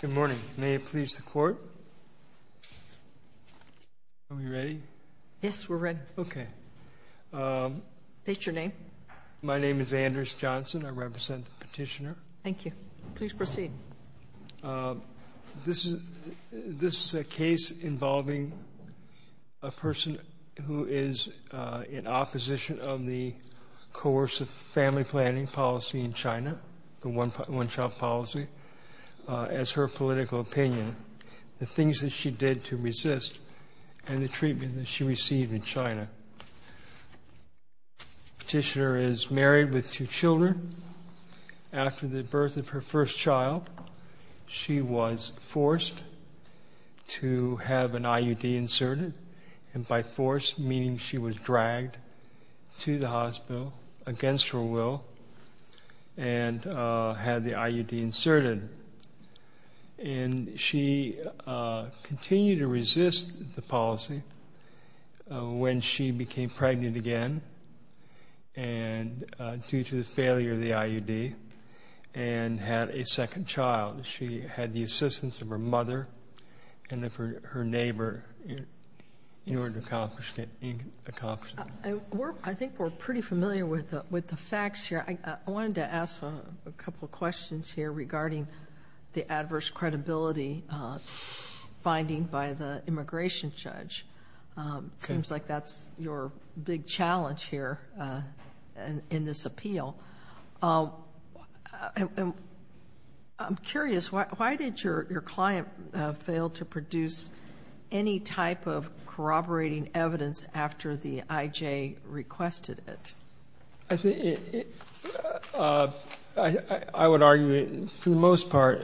Good morning. May it please the Court? Are we ready? Yes, we're ready. Okay. State your name. My name is Anders Johnson. I represent the petitioner. Thank you. Please proceed. This is a case involving a person who is in opposition of the coercive family planning policy in China, the one-child policy, as her political opinion, the things that she did to resist, and the treatment that she received in China. The petitioner is married with two children. After the birth of her first child, she was forced to have an IUD inserted, and by forced, meaning she was dragged to the hospital against her will and had the due to the failure of the IUD, and had a second child. She had the assistance of her mother and of her neighbor in order to accomplish it. I think we're pretty familiar with the facts here. I wanted to ask a couple of questions here regarding the adverse credibility finding by the immigration judge. It seems like that's your big challenge here in this appeal. I'm curious, why did your client fail to produce any type of corroborating evidence after the IJ requested it? I would argue, for the most part,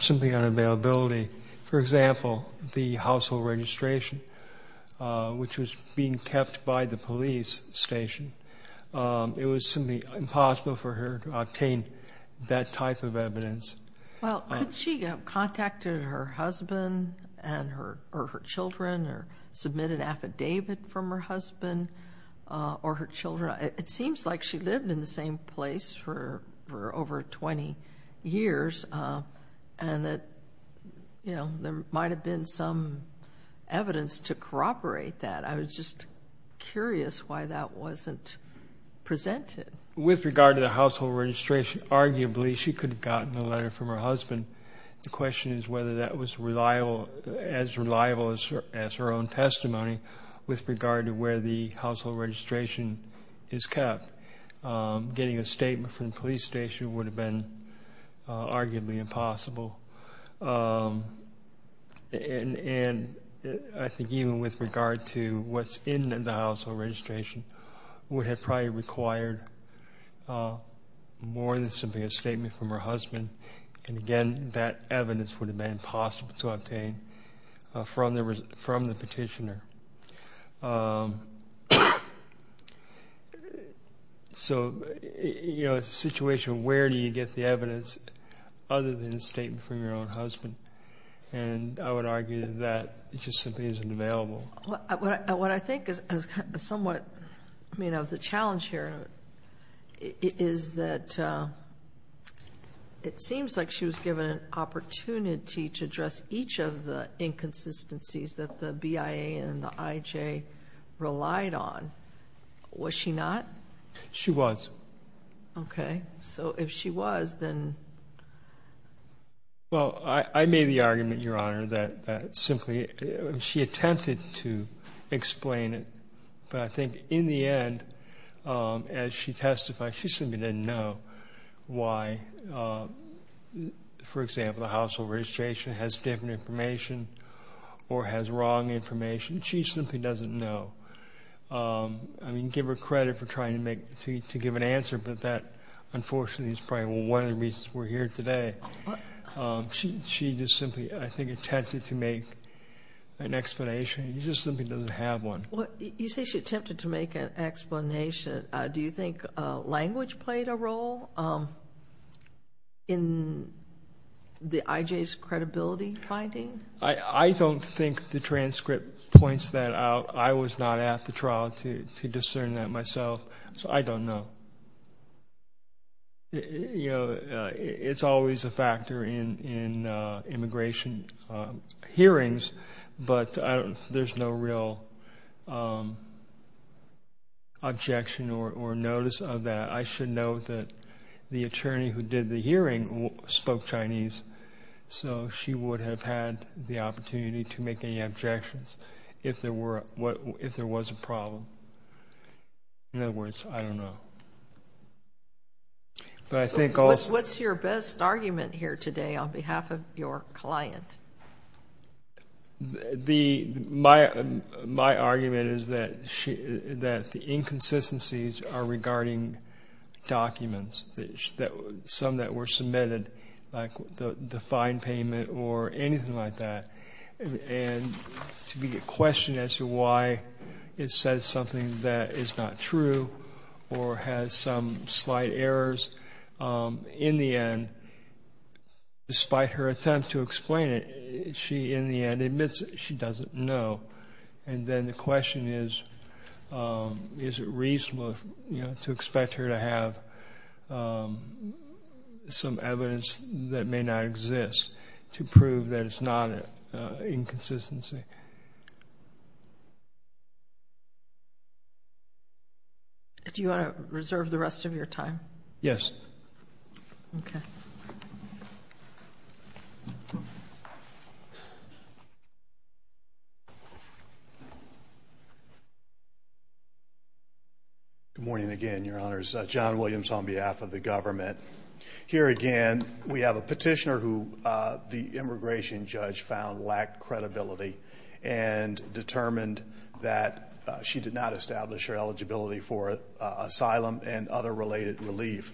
something on availability. For example, the household registration, which was being kept by the police station. It was simply impossible for her to obtain that type of evidence. Well, could she have contacted her husband and her children, or submit an affidavit from her husband or her children? It seems like she lived in the same place for over 20 years, and that, you know, there might have been some evidence to corroborate that. I was just curious why that wasn't presented. With regard to the household registration, arguably, she could have gotten a letter from her husband. The question is whether that was as reliable as her own testimony with regard to where the household registration is kept. Getting a statement from the police station would have been arguably impossible. And I think even with regard to what's in the household registration would have probably required more than simply a statement from her husband. And again, that evidence would have been impossible to obtain from the petitioner. So, you know, it's a situation where do you get the evidence other than a statement from your own husband? And I would argue that it just simply isn't available. What I think is somewhat, you know, the challenge here is that it seems like she was given an opportunity to address each of the inconsistencies that the BIA and the IJ relied on. Was she not? She was. Okay, so if she was, then... Well, I made the argument, Your Honor, that simply she attempted to explain it, but I think in the end, as she testified, she simply didn't know why, for example, the household registration has different information or has wrong information. She simply doesn't know. I mean, give her credit for trying to give an answer, but that unfortunately is probably one of the reasons we're here today. She just simply, I think, attempted to make an explanation. She just simply doesn't have one. You say she attempted to make an explanation. Do you think language played a role in the IJ's credibility finding? I don't think the transcript points that out. I was not at the trial to discern that myself, so I don't know. You know, it's always a factor in that. I should note that the attorney who did the hearing spoke Chinese, so she would have had the opportunity to make any objections if there was a problem. In other words, I don't know. What's your best argument here today on behalf of your client? My argument is that the inconsistencies are regarding documents, some that were submitted, like the fine payment or anything like that. And to be questioned as to why it says something that is not true or has some slight errors, in the end, despite her attempt to explain it, she in the end admits she doesn't know. And then the question is, is it reasonable to expect her to have some evidence that may not exist to prove that it's not an inconsistency? Do you want to reserve the rest of your time? Yes. Good morning again, Your Honors. John Williams on behalf of the government. Here again, we have a petitioner who the immigration judge found lacked credibility and determined that she did not establish her eligibility for asylum and other related relief.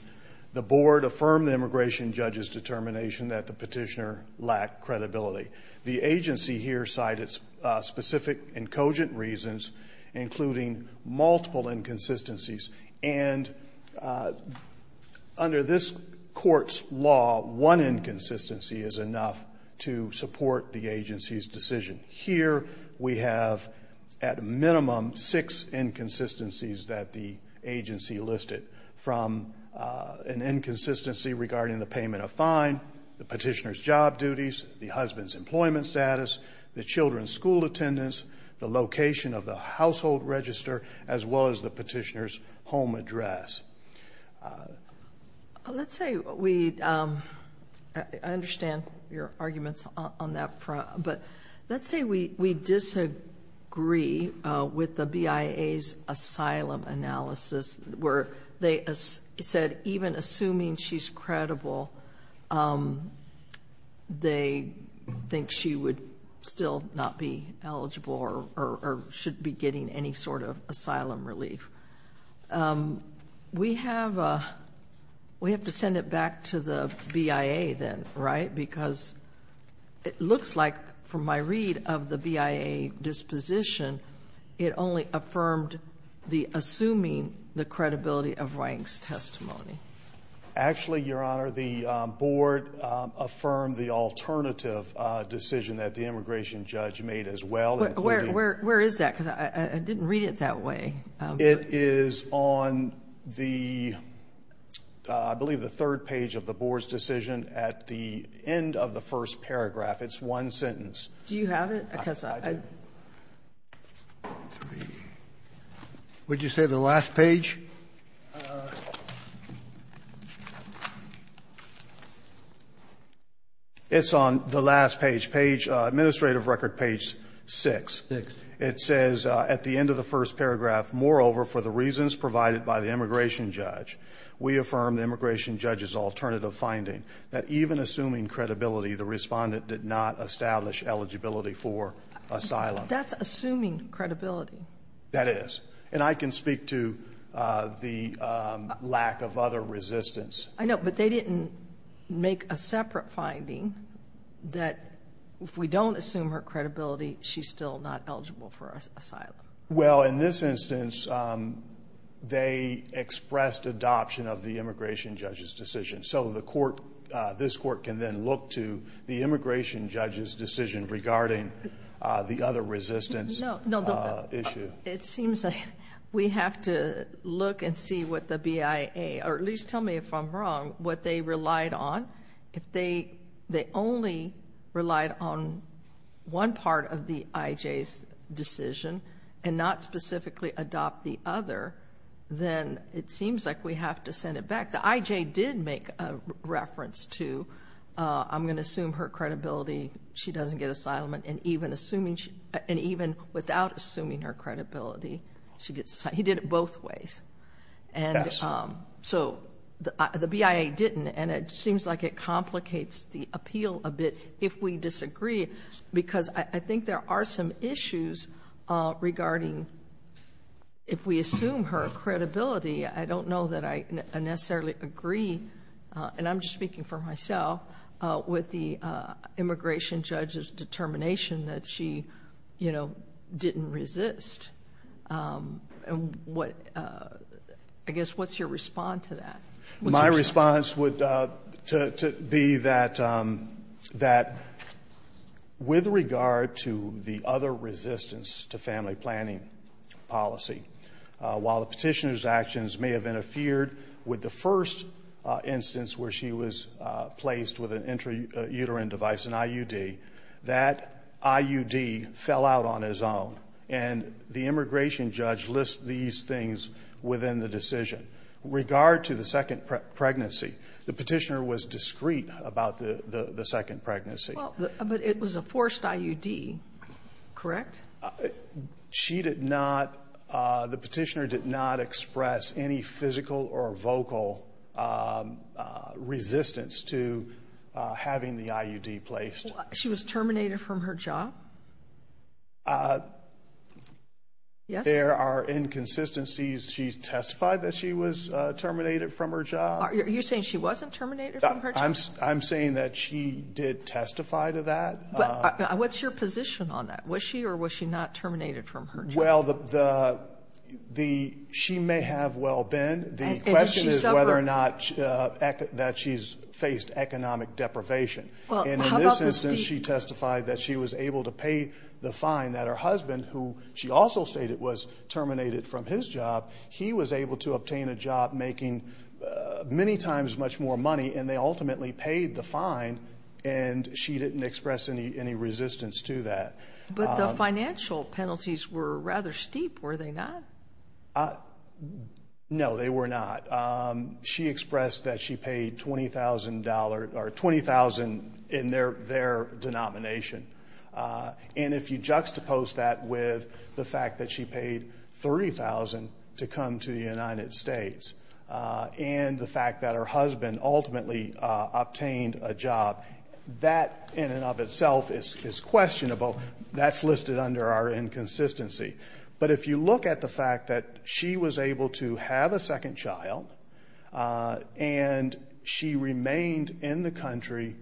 The board affirmed the immigration judge's determination that the petitioner lacked credibility. The agency here cited specific and cogent reasons, including multiple inconsistencies. And under this court's law, one inconsistency is enough to support the agency's decision. Here we have, at minimum, six inconsistencies that the agency lacks employment status, the children's school attendance, the location of the household register, as well as the petitioner's home address. Let's say we, I understand your arguments on that front, but let's say we disagree with the BIA's asylum analysis, where they said even assuming she's credible, they think she would still not be eligible or should be getting any sort of asylum relief. We have to send it back to the BIA then, right? Because it looks like, from my read of the BIA disposition, it only affirmed the credibility of Wang's testimony. Actually, Your Honor, the board affirmed the alternative decision that the immigration judge made as well. Where is that? Because I didn't read it that way. It is on the, I believe the third page of the board's decision at the end of the first paragraph. It's one sentence. Do you have it? Would you say the last page? It's on the last page, page, administrative record page six. It says at the end of the first paragraph, moreover, for the reasons provided by the immigration judge, we affirm the immigration judge's alternative finding that even assuming credibility, the respondent did not establish eligibility for asylum. That's assuming credibility. That is. And I can speak to the lack of other resistance. I know, but they didn't make a separate finding that if we don't assume her credibility, she's still not eligible for asylum. Well, in this instance, they expressed adoption of the immigration judge's decision. So the court, this court can then look to the immigration judge's decision regarding the other resistance issue. It seems like we have to look and see what the BIA, or at least tell me if I'm wrong, what they relied on. If they only relied on one part of the IJ's decision and not specifically adopt the other, then it seems like we have to send it back. In fact, the IJ did make a reference to, I'm going to assume her credibility, she doesn't get asylum, and even assuming, and even without assuming her credibility, she gets, he did it both ways. And so the BIA didn't, and it seems like it complicates the appeal a bit if we disagree, because I think there are some issues regarding if we assume her credibility. I don't know that I necessarily agree, and I'm just speaking for myself, with the immigration judge's determination that she, you know, didn't resist. And what, I guess, what's your response to that? My response would be that, with regard to the other resistance to family planning policy, while the petitioner's actions may have interfered with the first instance where she was placed with an intrauterine device, an IUD, that IUD fell out on its own. And the immigration judge lists these things within the decision. With regard to the second pregnancy, the petitioner was discreet about the second pregnancy. Well, but it was a forced IUD, correct? She did not, the petitioner did not express any physical or vocal resistance to having the IUD placed. She was terminated from her job? Yes. There are inconsistencies. She testified that she was terminated from her job. Are you saying she wasn't terminated from her job? I'm saying that she did testify to that. What's your position on that? Was she or was she not terminated from her job? Well, the, she may have well been. The question is whether or not, that she's faced economic deprivation. And in this instance, she testified that she was able to pay the fine that her husband, who she also stated was terminated from his job, he was able to obtain a job making many times much more money and they ultimately paid the fine and she didn't express any resistance to that. But the financial penalties were rather steep, were they not? No, they were not. She expressed that she paid $20,000 or $20,000 in their denomination. And if you juxtapose that with the fact that she paid $30,000 to come to the United States and the fact that her husband ultimately obtained a job, that in and of itself is questionable. That's listed under our inconsistency. But if you look at the fact that she was able to have a second child and she remained in the country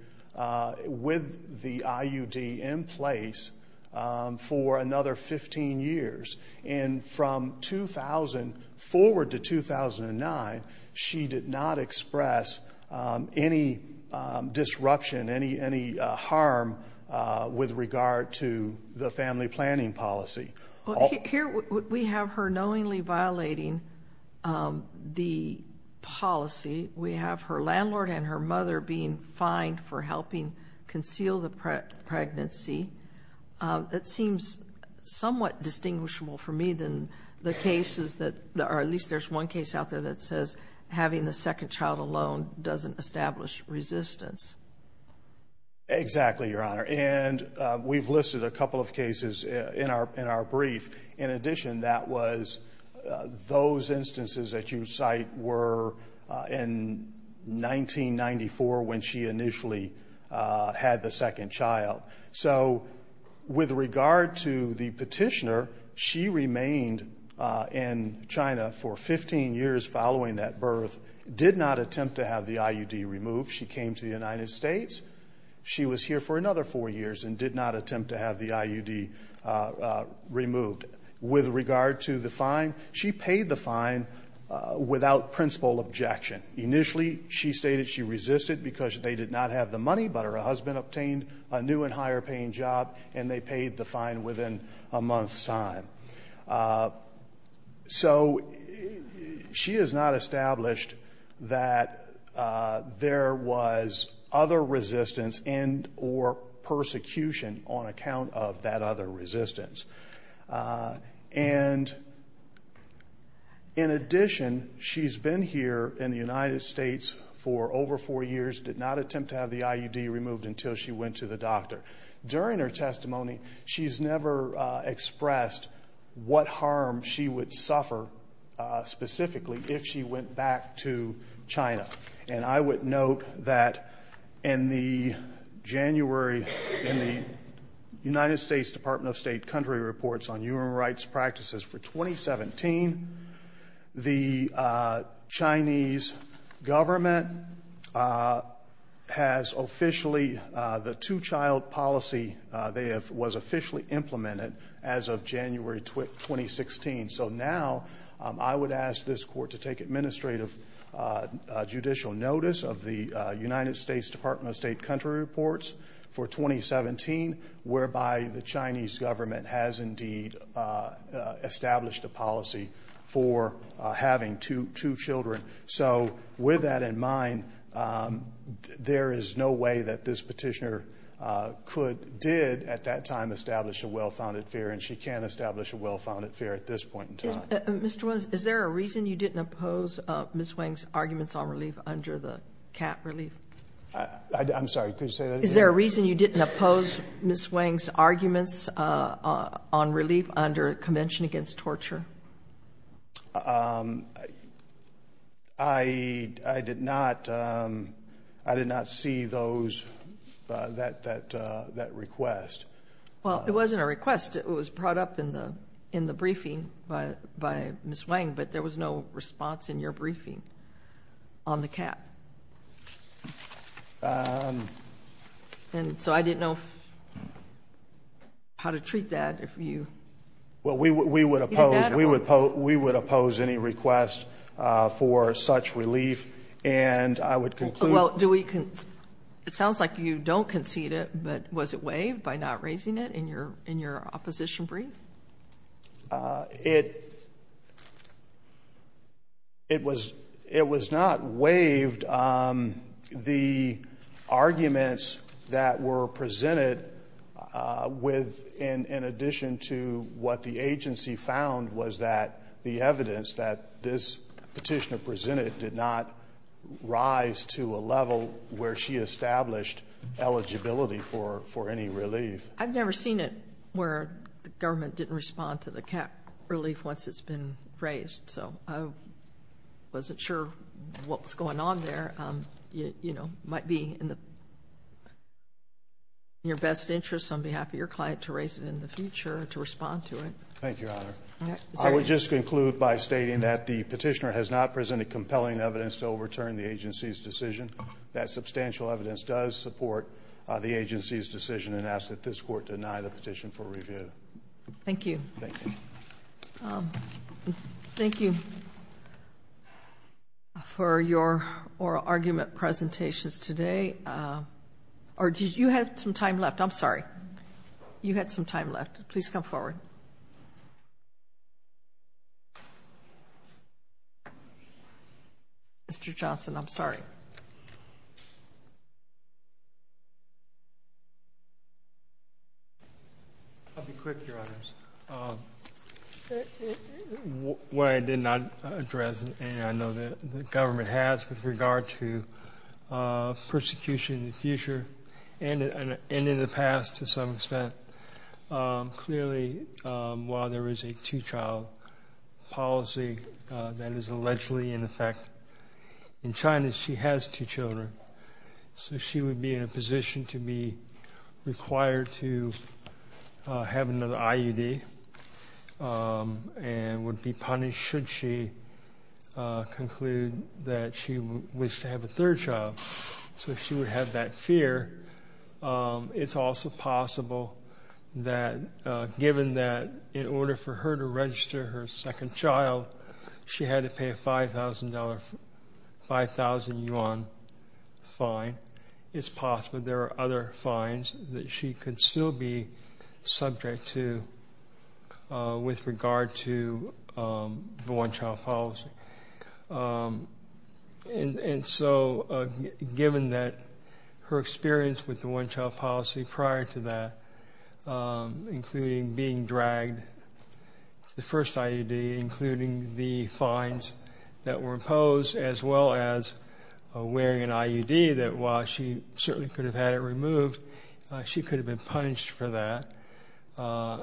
with the IUD in place for another 15 years and from 2000 forward to 2009, she did not express any disruption, any harm with regard to the family planning policy. Well, here we have her knowingly violating the policy. We have her landlord and her mother being fined for helping conceal the pregnancy. That seems somewhat distinguishable for me than the cases that are at least there's one case out there that says having the second child alone doesn't establish resistance. Exactly, Your Honor. And we've listed a couple of cases in our brief. In addition, that was those instances that you cite were in 1994 when she initially had the second child. So with regard to the petitioner, she remained in China for 15 years following that birth, did not attempt to have the IUD removed. She came to the United States. She was here for another four years and did not attempt to have the IUD removed. With regard to the fine, she paid the fine without principal objection. Initially, she stated she resisted because they did not have the money, but her husband obtained a new and higher paying job and they paid the fine within a month's time. So she has not established that there was other resistance and or persecution on account of that other resistance. And in addition, she's been here in the United States for over four years, did not attempt to have the IUD removed until she went to the doctor. During her testimony, she's never expressed what harm she would suffer specifically if she went back to China. And I would note that in the January, in the United States Department of State country reports on human rights practices for 2017, the Chinese government has officially, the two child policy, they have, was officially implemented as of January 2016. So now, I would ask this court to take administrative judicial notice of the United States Department of State country reports for 2017, whereby the Chinese government has indeed established a policy for having two children. So with that in mind, there is no way that this petitioner could, did at that time, establish a well-founded fear. And she can't establish a well-founded fear at this point in time. Mr. Williams, is there a reason you didn't oppose Ms. Wang's arguments on relief under the cap relief? Is there a reason you didn't oppose Ms. Wang's arguments on relief under Convention Against Torture? I did not see those, that request. Well, it wasn't a request. It was brought up in the briefing by Ms. Wang, but there was no response in your briefing on the cap. And so I didn't know how to treat that, if you... Well, we would oppose, we would oppose any request for such relief. And I would conclude... Well, do we, it sounds like you don't concede it, but was it waived by not raising it in your, in your opposition brief? It, it was, it was not waived. The arguments that were presented with, in addition to what the agency found, was that the evidence that this petitioner presented did not rise to a level where she established eligibility for, for any relief. I've never seen it where the government didn't respond to the cap relief once it's been raised. So I wasn't sure what was going on there. You, you know, might be in the, in your best interest on behalf of your client to raise it in the future, to respond to it. Thank you, Your Honor. I would just conclude by stating that the petitioner has not presented compelling evidence to overturn the agency's decision. That substantial evidence does support the agency's decision and ask that this Court deny the petition for review. Thank you. Thank you. Thank you for your oral argument presentations today. Or did you have some time left? I'm sorry. You had some time left. Please come forward. Mr. Johnson, I'm sorry. I'll be quick, Your Honors. What I did not address, and I know that the government has with regard to persecution in the future and in the past to some extent, clearly, while there is a two-child policy that is allegedly in effect in China, is she has two children. So she would be in a position to be required to have another IUD and would be punished should she conclude that she wished to have a third child. So she would have that fear. It's also possible that given that in order for her to register her second child, she had to pay a $5,000, 5,000 yuan fine. It's possible there are other fines that she could still be subject to with regard to the one-child policy. And so given that her experience with the one-child policy prior to that, including being dragged, the first IUD, including the fines that were imposed, as well as wearing an IUD that while she certainly could have had it removed, she could have been punished for that.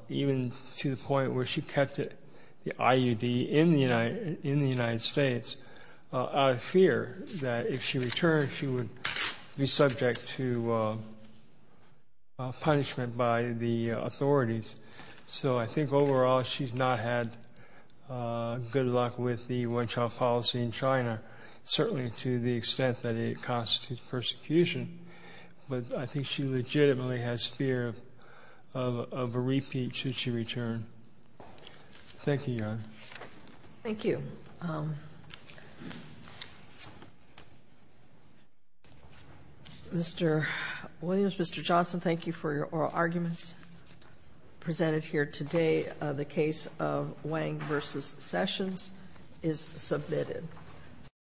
Even to the point where she kept the IUD in the United States out of fear that if she returned, she would be subject to punishment by the authorities. So I think overall, she's not had good luck with the one-child policy in China, certainly to the extent that it constitutes persecution. But I think she legitimately has fear of a repeat should she return. Thank you, Your Honor. Thank you. Mr. Williams, Mr. Johnson, thank you for your oral arguments presented here today. The case of Wang versus Sessions is submitted.